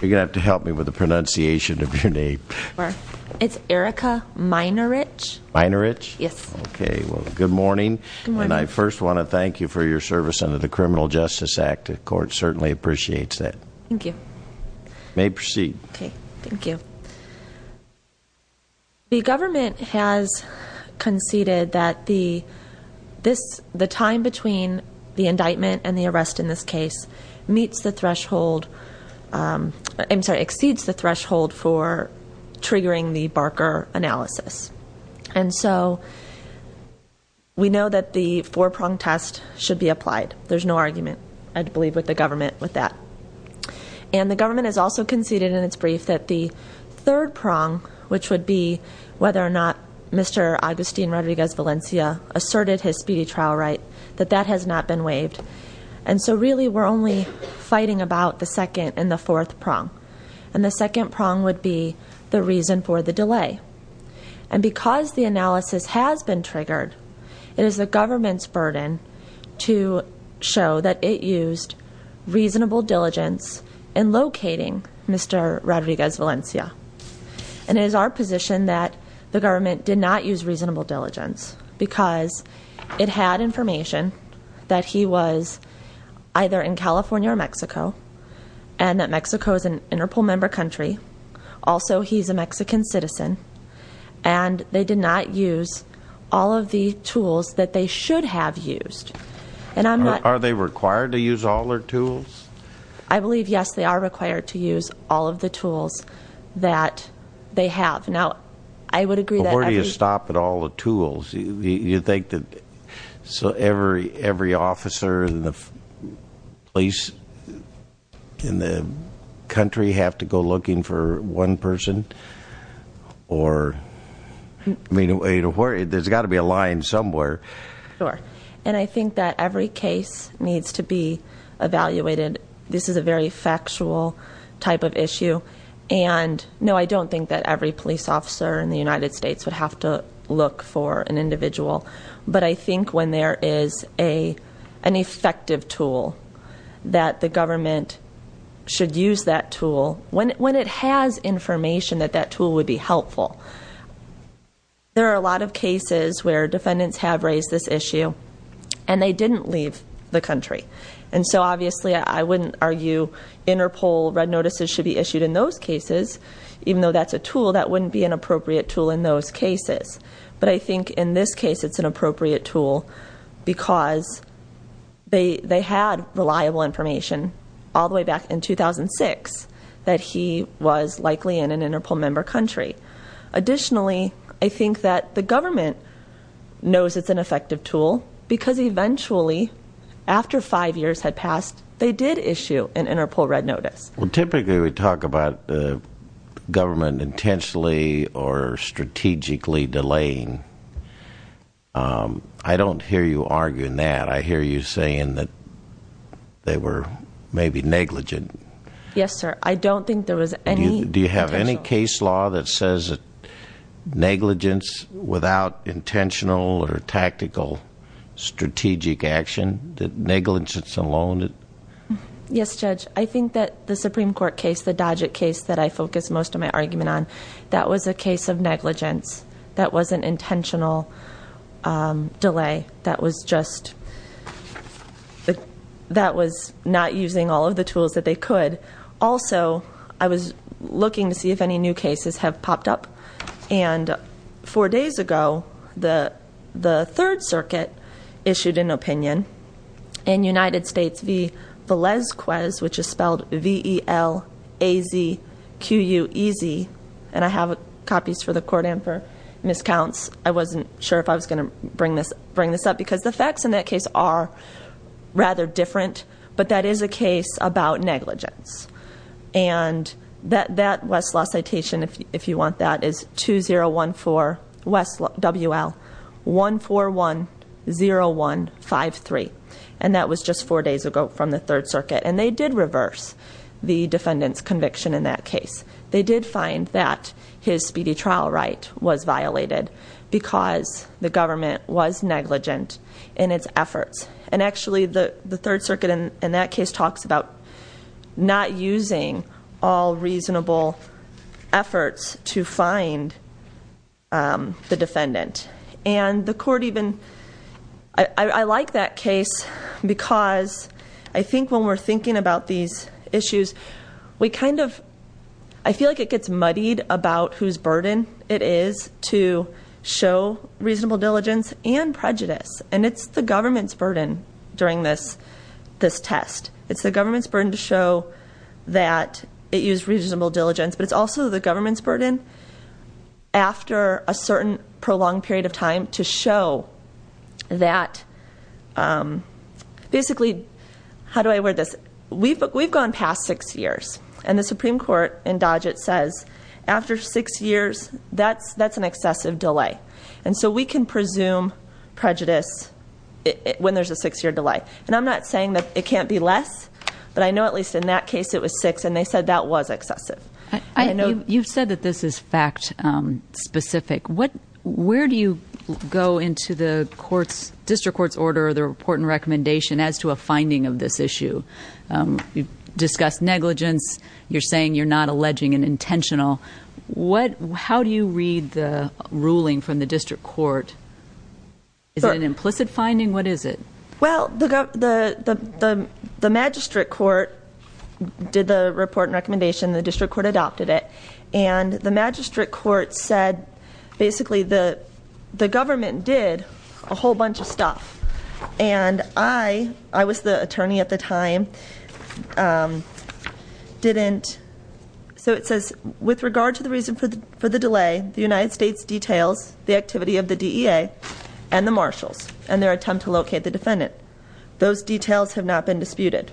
You're going to have to help me with the pronunciation of your name. It's Erica Minorich. Minorich? Yes. Okay, well good morning. Good morning. And I first want to thank you for your service under the Criminal Justice Act. The court certainly appreciates that. Thank you. May proceed. Okay, thank you. The government has conceded that the time between the indictment and the arrest in this case exceeds the threshold for triggering the Barker analysis. And so we know that the four-prong test should be applied. There's no argument, I believe, with the government with that. And the government has also conceded in its brief that the third prong, which would be whether or not Mr. Agustin Rodriguez-Valencia asserted his speedy trial right, that that has not been waived, and so really we're only fighting about the second and the fourth prong. And the second prong would be the reason for the delay. And because the analysis has been triggered, it is the government's burden to show that it used reasonable diligence in locating Mr. Rodriguez-Valencia. And it is our position that the government did not use reasonable diligence because it had information that he was either in California or Mexico. And that Mexico is an Interpol member country. Also, he's a Mexican citizen. And they did not use all of the tools that they should have used. And I'm not- Are they required to use all their tools? I believe, yes, they are required to use all of the tools that they have. Now, I would agree that every- Before you stop at all the tools, you think that every officer in the place, in the country, have to go looking for one person? Or, I mean, there's got to be a line somewhere. Sure. And I think that every case needs to be evaluated. This is a very factual type of issue. And no, I don't think that every police officer in the United States would have to look for an individual. But I think when there is an effective tool that the government should use that tool, when it has information that that tool would be helpful. There are a lot of cases where defendants have raised this issue and they didn't leave the country. And so, obviously, I wouldn't argue Interpol red notices should be issued in those cases. Even though that's a tool, that wouldn't be an appropriate tool in those cases. But I think in this case, it's an appropriate tool because they had reliable information all the way back in 2006 that he was likely in an Interpol member country. Additionally, I think that the government knows it's an effective tool, because eventually, after five years had passed, they did issue an Interpol red notice. Well, typically, we talk about the government intentionally or strategically delaying. I don't hear you arguing that. I hear you saying that they were maybe negligent. Yes, sir. I don't think there was any- Law that says negligence without intentional or tactical strategic action, that negligence alone. Yes, Judge. I think that the Supreme Court case, the Dodgett case that I focus most of my argument on, that was a case of negligence. That was an intentional delay. That was just, that was not using all of the tools that they could. Also, I was looking to see if any new cases have popped up. And four days ago, the Third Circuit issued an opinion. In United States, the VELAZQUEZ, which is spelled V-E-L-A-Z-Q-U-E-Z. And I have copies for the court and for miscounts. I wasn't sure if I was going to bring this up, because the facts in that case are rather different. But that is a case about negligence. And that Westlaw citation, if you want that, is 2014, West WL 1410153, and that was just four days ago from the Third Circuit. And they did reverse the defendant's conviction in that case. They did find that his speedy trial right was violated because the government was negligent in its efforts. And actually, the Third Circuit in that case talks about not using all reasonable efforts to find the defendant. And the court even, I like that case because I think when we're thinking about these issues, we kind of, I feel like it gets muddied about whose burden it is to show reasonable diligence and prejudice. And it's the government's burden during this test. It's the government's burden to show that it used reasonable diligence. But it's also the government's burden after a certain prolonged period of time to show that. Basically, how do I word this? We've gone past six years. And the Supreme Court in Dodge it says, after six years, that's an excessive delay. And so we can presume prejudice when there's a six year delay. And I'm not saying that it can't be less, but I know at least in that case it was six and they said that was excessive. I know- You've said that this is fact specific. Where do you go into the district court's order or the report and recommendation as to a finding of this issue? Discuss negligence, you're saying you're not alleging an intentional. How do you read the ruling from the district court? Is it an implicit finding? What is it? Well, the magistrate court did the report and recommendation. The district court adopted it. And the magistrate court said, basically, the government did a whole bunch of stuff. And I was the attorney at the time, didn't. So it says, with regard to the reason for the delay, the United States details the activity of the DEA and the marshals and their attempt to locate the defendant, those details have not been disputed.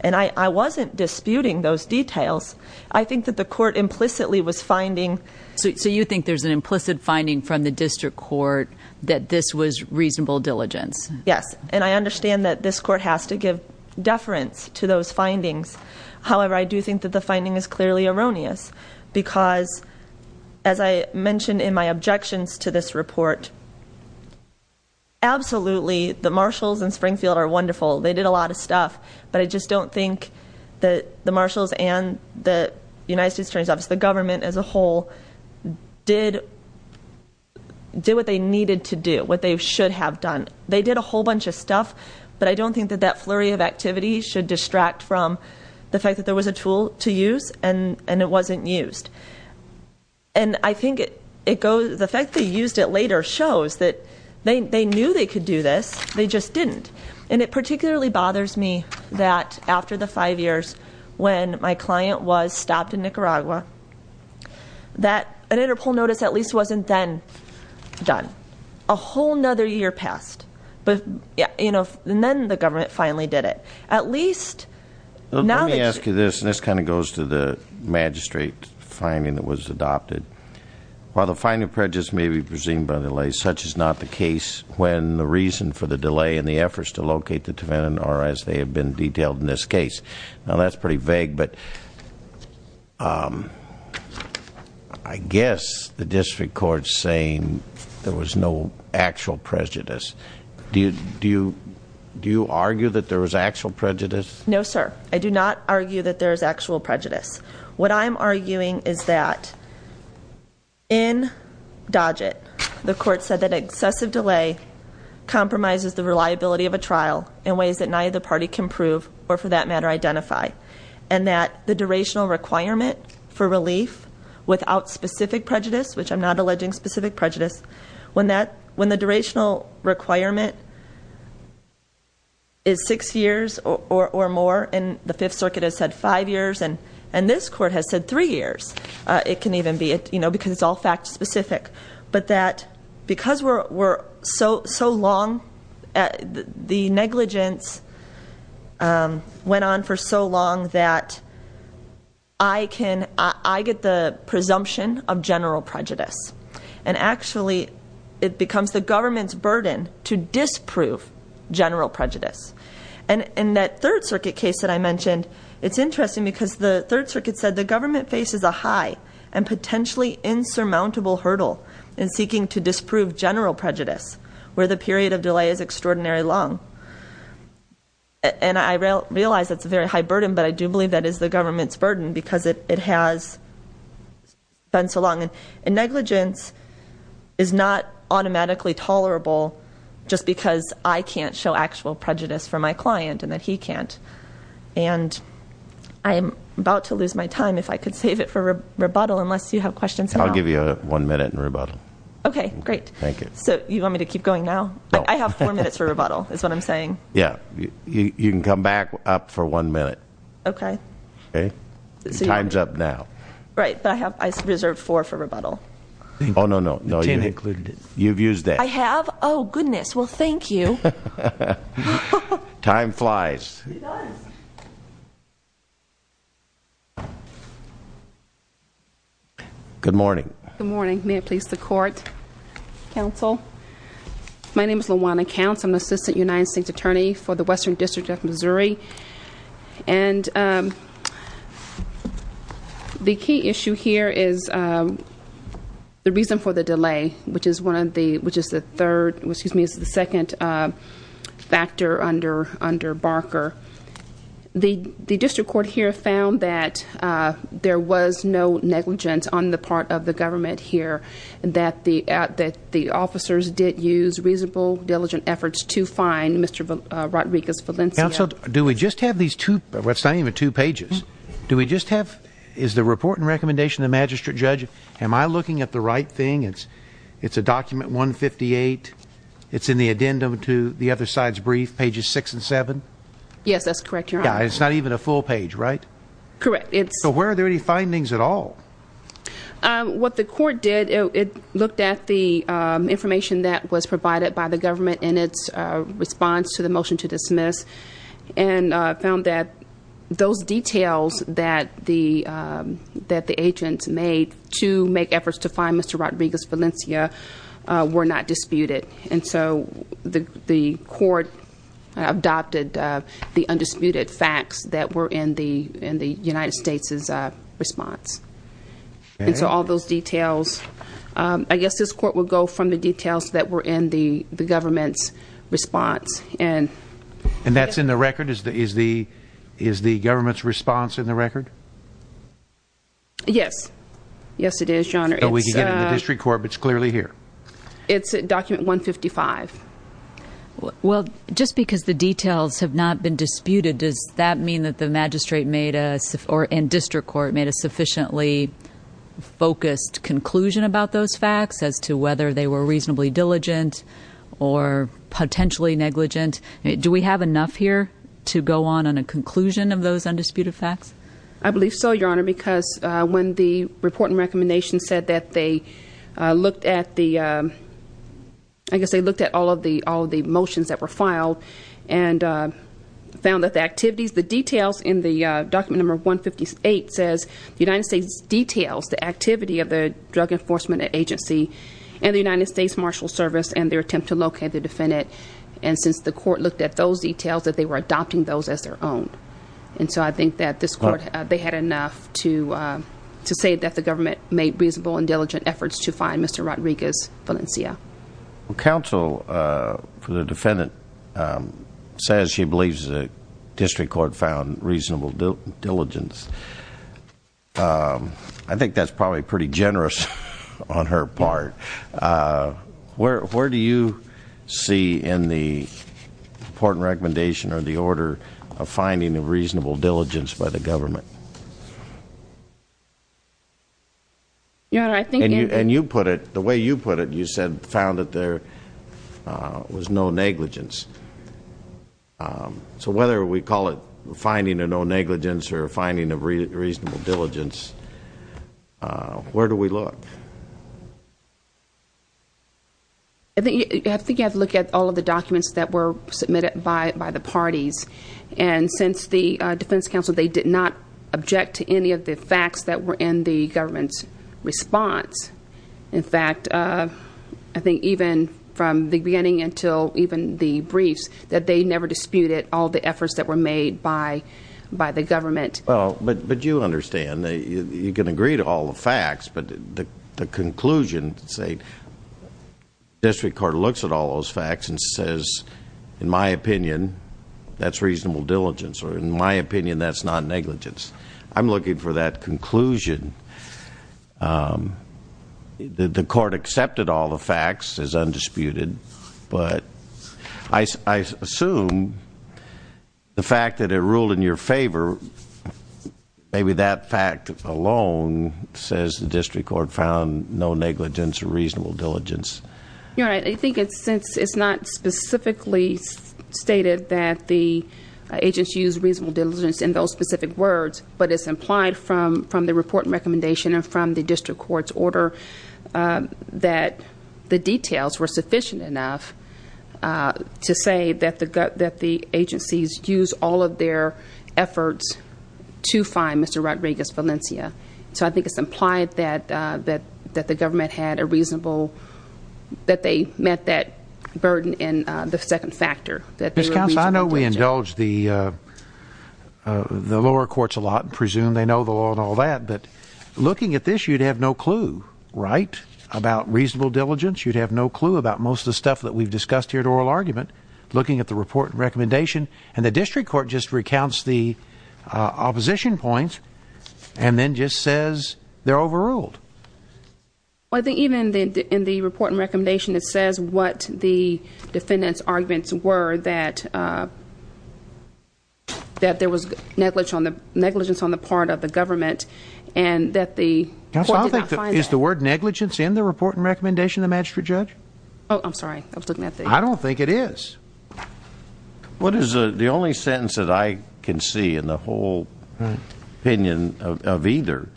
And I wasn't disputing those details. I think that the court implicitly was finding- So you think there's an implicit finding from the district court that this was reasonable diligence? Yes, and I understand that this court has to give deference to those findings. However, I do think that the finding is clearly erroneous. Because, as I mentioned in my objections to this report, absolutely, the marshals in Springfield are wonderful. They did a lot of stuff. But I just don't think that the marshals and the United States Attorney's Office, the government as a whole, did what they needed to do, what they should have done. They did a whole bunch of stuff. But I don't think that that flurry of activity should distract from the fact that there was a tool to use and it wasn't used. And I think the fact they used it later shows that they knew they could do this, they just didn't. And it particularly bothers me that after the five years when my client was stopped in Nicaragua, that an interpol notice at least wasn't then done. A whole nother year passed, and then the government finally did it. At least, now that you- Let me ask you this, and this kind of goes to the magistrate finding that was adopted. While the finding of prejudice may be presumed by delay, such is not the case when the reason for the delay in the efforts to locate the defendant are as they have been detailed in this case. Now that's pretty vague, but I guess the district court's saying there was no actual prejudice, do you argue that there was actual prejudice? No sir, I do not argue that there is actual prejudice. What I'm arguing is that in Dodge it, the court said that excessive delay compromises the reliability of a trial in ways that neither party can prove or for that matter identify. And that the durational requirement for relief without specific prejudice, which I'm not alleging specific prejudice, when the durational requirement is six years or more, and the Fifth Circuit has said five years, and this court has said three years. It can even be, because it's all fact specific. But that because we're so long, the negligence went on for so long that I get the presumption of general prejudice. And actually, it becomes the government's burden to disprove general prejudice. And that Third Circuit case that I mentioned, it's interesting because the Third Circuit said the government faces a high and it's extraordinary long, and I realize that's a very high burden, but I do believe that is the government's burden because it has been so long. And negligence is not automatically tolerable just because I can't show actual prejudice for my client and that he can't. And I'm about to lose my time if I could save it for rebuttal unless you have questions now. I'll give you one minute in rebuttal. Okay, great. Thank you. So you want me to keep going now? I have four minutes for rebuttal, is what I'm saying. Yeah, you can come back up for one minute. Okay. Okay, time's up now. Right, but I reserved four for rebuttal. No, no, no, you've used it. I have? Goodness, well, thank you. Time flies. It does. Good morning. Good morning, may it please the court, council. My name is LaJuanna Counts, I'm the Assistant United States Attorney for the Western District of Missouri. And the key issue here is the reason for the delay, which is the second factor under Barker. The district court here found that there was no negligence on the part of the government here. And that the officers did use reasonable, diligent efforts to find Mr. Rodriguez-Valencia. Council, do we just have these two, well it's not even two pages. Do we just have, is the report and recommendation of the magistrate judge, am I looking at the right thing? It's a document 158, it's in the addendum to the other side's brief, pages six and seven? Yes, that's correct, your honor. Yeah, it's not even a full page, right? Correct, it's- So where are there any findings at all? What the court did, it looked at the information that was provided by the government in its response to the motion to dismiss. And found that those details that the agents made to make efforts to find Mr. Rodriguez-Valencia were not disputed. And so the court adopted the undisputed facts that were in the United States' response. And so all those details, I guess this court will go from the details that were in the government's response. And- And that's in the record, is the government's response in the record? Yes, yes it is, your honor. So we can get it in the district court, but it's clearly here. It's document 155. Well, just because the details have not been disputed, does that mean that the magistrate made a, or in district court, made a sufficiently focused conclusion about those facts? As to whether they were reasonably diligent or potentially negligent. Do we have enough here to go on on a conclusion of those undisputed facts? I believe so, your honor, because when the report and recommendation said that they looked at the, I guess they looked at all of the motions that were filed and found that the activities, the details in the document number 158 says the United States details, the activity of the Drug Enforcement Agency and the United States Marshal Service and their attempt to locate the defendant. And since the court looked at those details, that they were adopting those as their own. And so I think that this court, they had enough to say that the government made reasonable and diligent, Valencia. Counsel for the defendant says she believes the district court found reasonable diligence. I think that's probably pretty generous on her part. Where do you see in the important recommendation or the order of finding a reasonable diligence by the government? Your honor, I think- And you put it, the way you put it, you said found that there was no negligence. So whether we call it finding a no negligence or finding a reasonable diligence, where do we look? I think you have to look at all of the documents that were submitted by the parties. And since the defense counsel, they did not object to any of the facts that were in the government's response. In fact, I think even from the beginning until even the briefs, that they never disputed all the efforts that were made by the government. Well, but you understand, you can agree to all the facts, but the conclusion, say district court looks at all those facts and says, in my opinion, that's reasonable diligence, or in my opinion, that's non-negligence. I'm looking for that conclusion. The court accepted all the facts as undisputed, but I assume the fact that it ruled in your favor, maybe that fact alone says the district court found no negligence or reasonable diligence. Yeah, I think it's not specifically stated that the agency used reasonable diligence in those specific words, but it's implied from the report and recommendation and from the district court's order that the details were sufficient enough to say that the agencies used all of their efforts to find Mr. Rodriguez Valencia. So I think it's implied that the government had a reasonable, that they met that burden in the second factor, that they were reasonable diligence. Ms. Counsel, I know we indulge the lower courts a lot and presume they know the law and all that, but looking at this, you'd have no clue, right, about reasonable diligence. You'd have no clue about most of the stuff that we've discussed here at oral argument. Looking at the report and recommendation, and the district court just recounts the opposition points, and then just says they're overruled. I think even in the report and recommendation, it says what the defendant's arguments were that there was negligence on the part of the government, and that the court did not find that. Is the word negligence in the report and recommendation the magistrate judge? I'm sorry, I was looking at the- I don't think it is. What is the, the only sentence that I can see in the whole opinion of either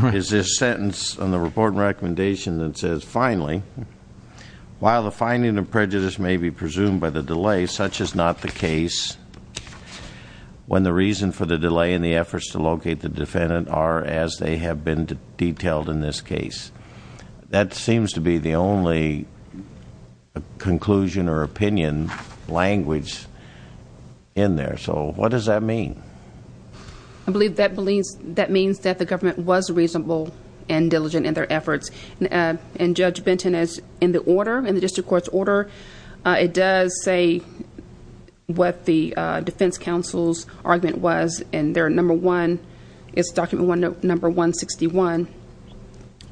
is this sentence on the report and recommendation that says, finally, while the finding of prejudice may be presumed by the delay, such is not the case when the reason for the delay in the efforts to locate the defendant are as they have been detailed in this case. That seems to be the only conclusion or opinion language in there. So, what does that mean? I believe that means that the government was reasonable and diligent in their efforts. And Judge Benton is, in the order, in the district court's order, it does say what the defense counsel's argument was. And their number one, it's document number 161,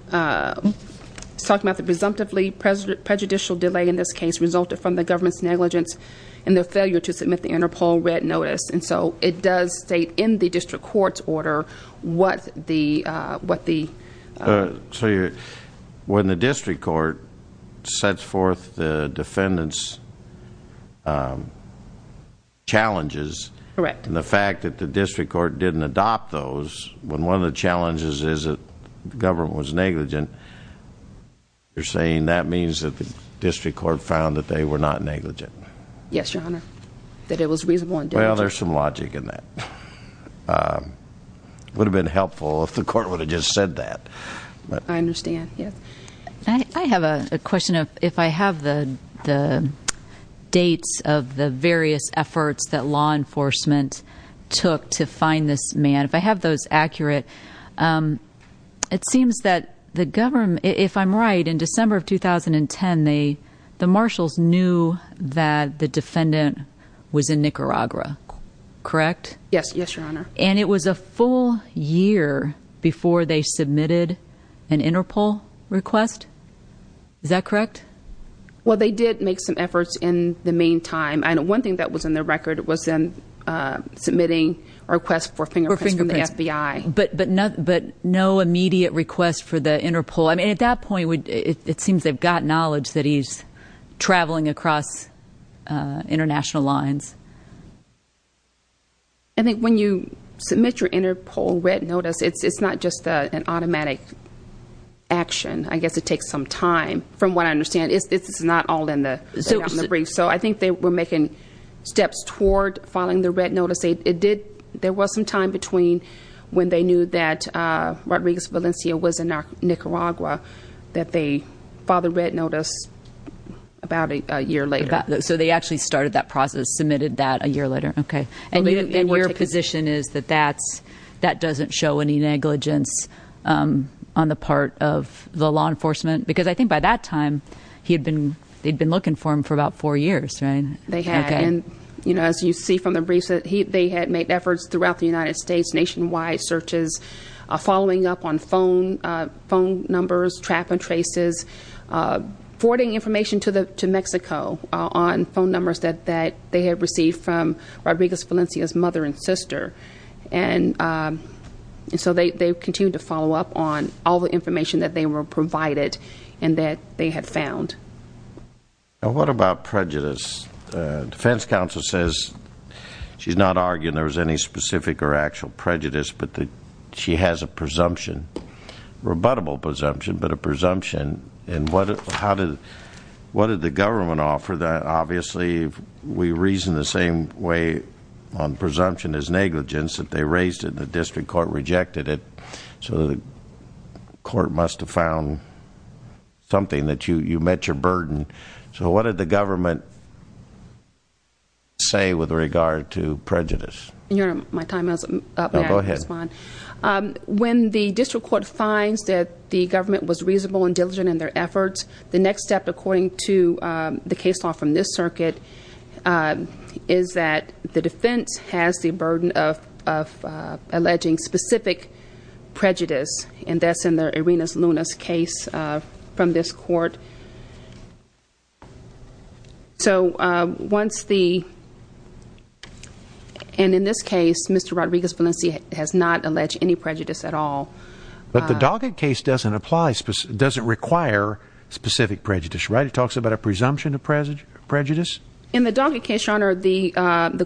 it's talking about the presumptively prejudicial delay in this case resulted from the government's negligence. And their failure to submit the Interpol Red Notice. And so, it does state in the district court's order what the- So, when the district court sets forth the defendant's challenges, and the fact that the district court didn't adopt those, when one of the challenges is that the government was negligent, you're saying that means that the district court found that they were not negligent. Yes, your honor. That it was reasonable and diligent. Well, there's some logic in that. It would have been helpful if the court would have just said that. I understand, yes. I have a question of, if I have the dates of the various efforts that law enforcement took to find this man. If I have those accurate, it seems that the government, if I'm right, in December of 2010, the marshals knew that the defendant was in Nicaragua, correct? Yes, yes, your honor. And it was a full year before they submitted an Interpol request? Is that correct? Well, they did make some efforts in the meantime. I know one thing that was in their record was them submitting a request for fingerprints from the FBI. But no immediate request for the Interpol. I mean, at that point, it seems they've got knowledge that he's traveling across international lines. I think when you submit your Interpol red notice, it's not just an automatic action. I guess it takes some time. From what I understand, it's not all in the brief. So I think they were making steps toward filing the red notice. There was some time between when they knew that Rodriguez Valencia was in Nicaragua. That they filed the red notice about a year later. So they actually started that process, submitted that a year later, okay. And your position is that that doesn't show any negligence on the part of the law enforcement? Because I think by that time, they'd been looking for him for about four years, right? They had, and as you see from the briefs, they had made efforts throughout the United States, nationwide searches. Following up on phone numbers, trap and traces, forwarding information to Mexico on phone numbers that they had received from Rodriguez Valencia's mother and sister. And so they continued to follow up on all the information that they were provided and that they had found. Now what about prejudice? Defense counsel says she's not arguing there was any specific or actual prejudice, but she has a presumption, rebuttable presumption, but a presumption. And what did the government offer that obviously we reason the same way on presumption as negligence that they raised it and the district court rejected it. So the court must have found something that you met your burden. So what did the government say with regard to prejudice? You're on my time, I was up there. Go ahead. When the district court finds that the government was reasonable and diligent in their efforts, the next step according to the case law from this circuit is that the defense has the burden of alleging specific prejudice. And that's in the arenas, Luna's case from this court. So once the, and in this case, Mr. Rodriguez Valencia has not alleged any prejudice at all. But the docket case doesn't apply, doesn't require specific prejudice, right? It talks about a presumption of prejudice. In the docket case, your honor, the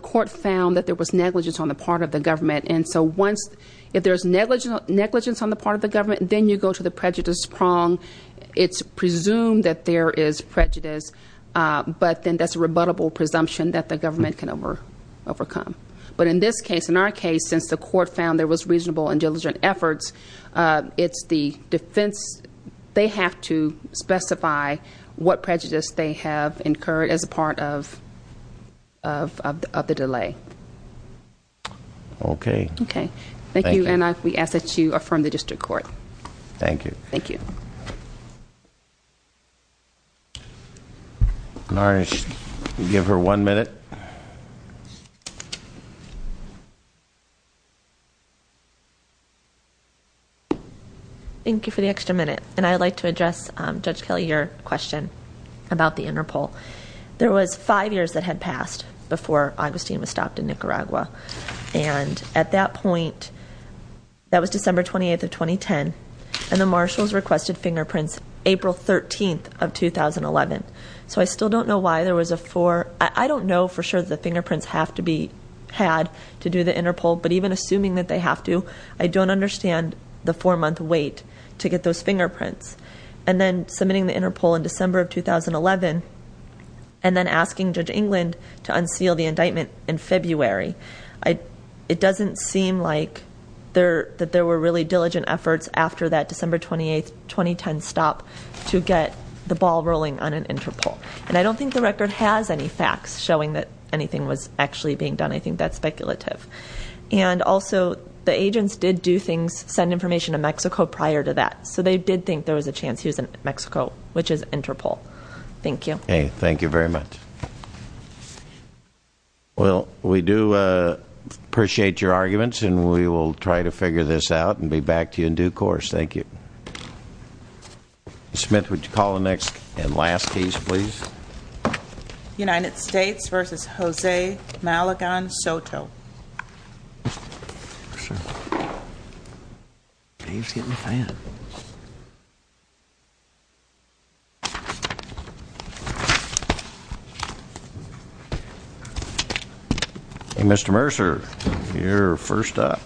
court found that there was negligence on the part of the government. And so once, if there's negligence on the part of the government, then you go to the prejudice prong. It's presumed that there is prejudice, but then that's a rebuttable presumption that the government can overcome. But in this case, in our case, since the court found there was reasonable and diligent efforts, it's the defense. They have to specify what prejudice they have incurred as a part of the delay. Okay. Okay. Thank you. And we ask that you affirm the district court. Thank you. Thank you. All right, give her one minute. Thank you for the extra minute. And I'd like to address, Judge Kelly, your question about the inner poll. There was five years that had passed before Augustine was stopped in Nicaragua. And at that point, that was December 28th of 2010, and the marshals requested fingerprints April 13th of 2011. So I still don't know why there was a four. I don't know for sure that the fingerprints have to be had to do the inner poll, but even assuming that they have to, I don't understand the four month wait to get those fingerprints. And then submitting the inner poll in December of 2011, and then asking Judge England to unseal the indictment in February. It doesn't seem like that there were really diligent efforts after that December 28th, 2010 stop to get the ball rolling on an inter-poll. And I don't think the record has any facts showing that anything was actually being done. I think that's speculative. And also, the agents did do things, send information to Mexico prior to that. So they did think there was a chance he was in Mexico, which is inter-poll. Thank you. Thank you very much. Well, we do appreciate your arguments, and we will try to figure this out and be back to you in due course. Thank you. Smith, would you call the next and last piece, please? United States versus Jose Malagon Soto. He's getting a fan. Hey, Mr. Mercer, you're first up.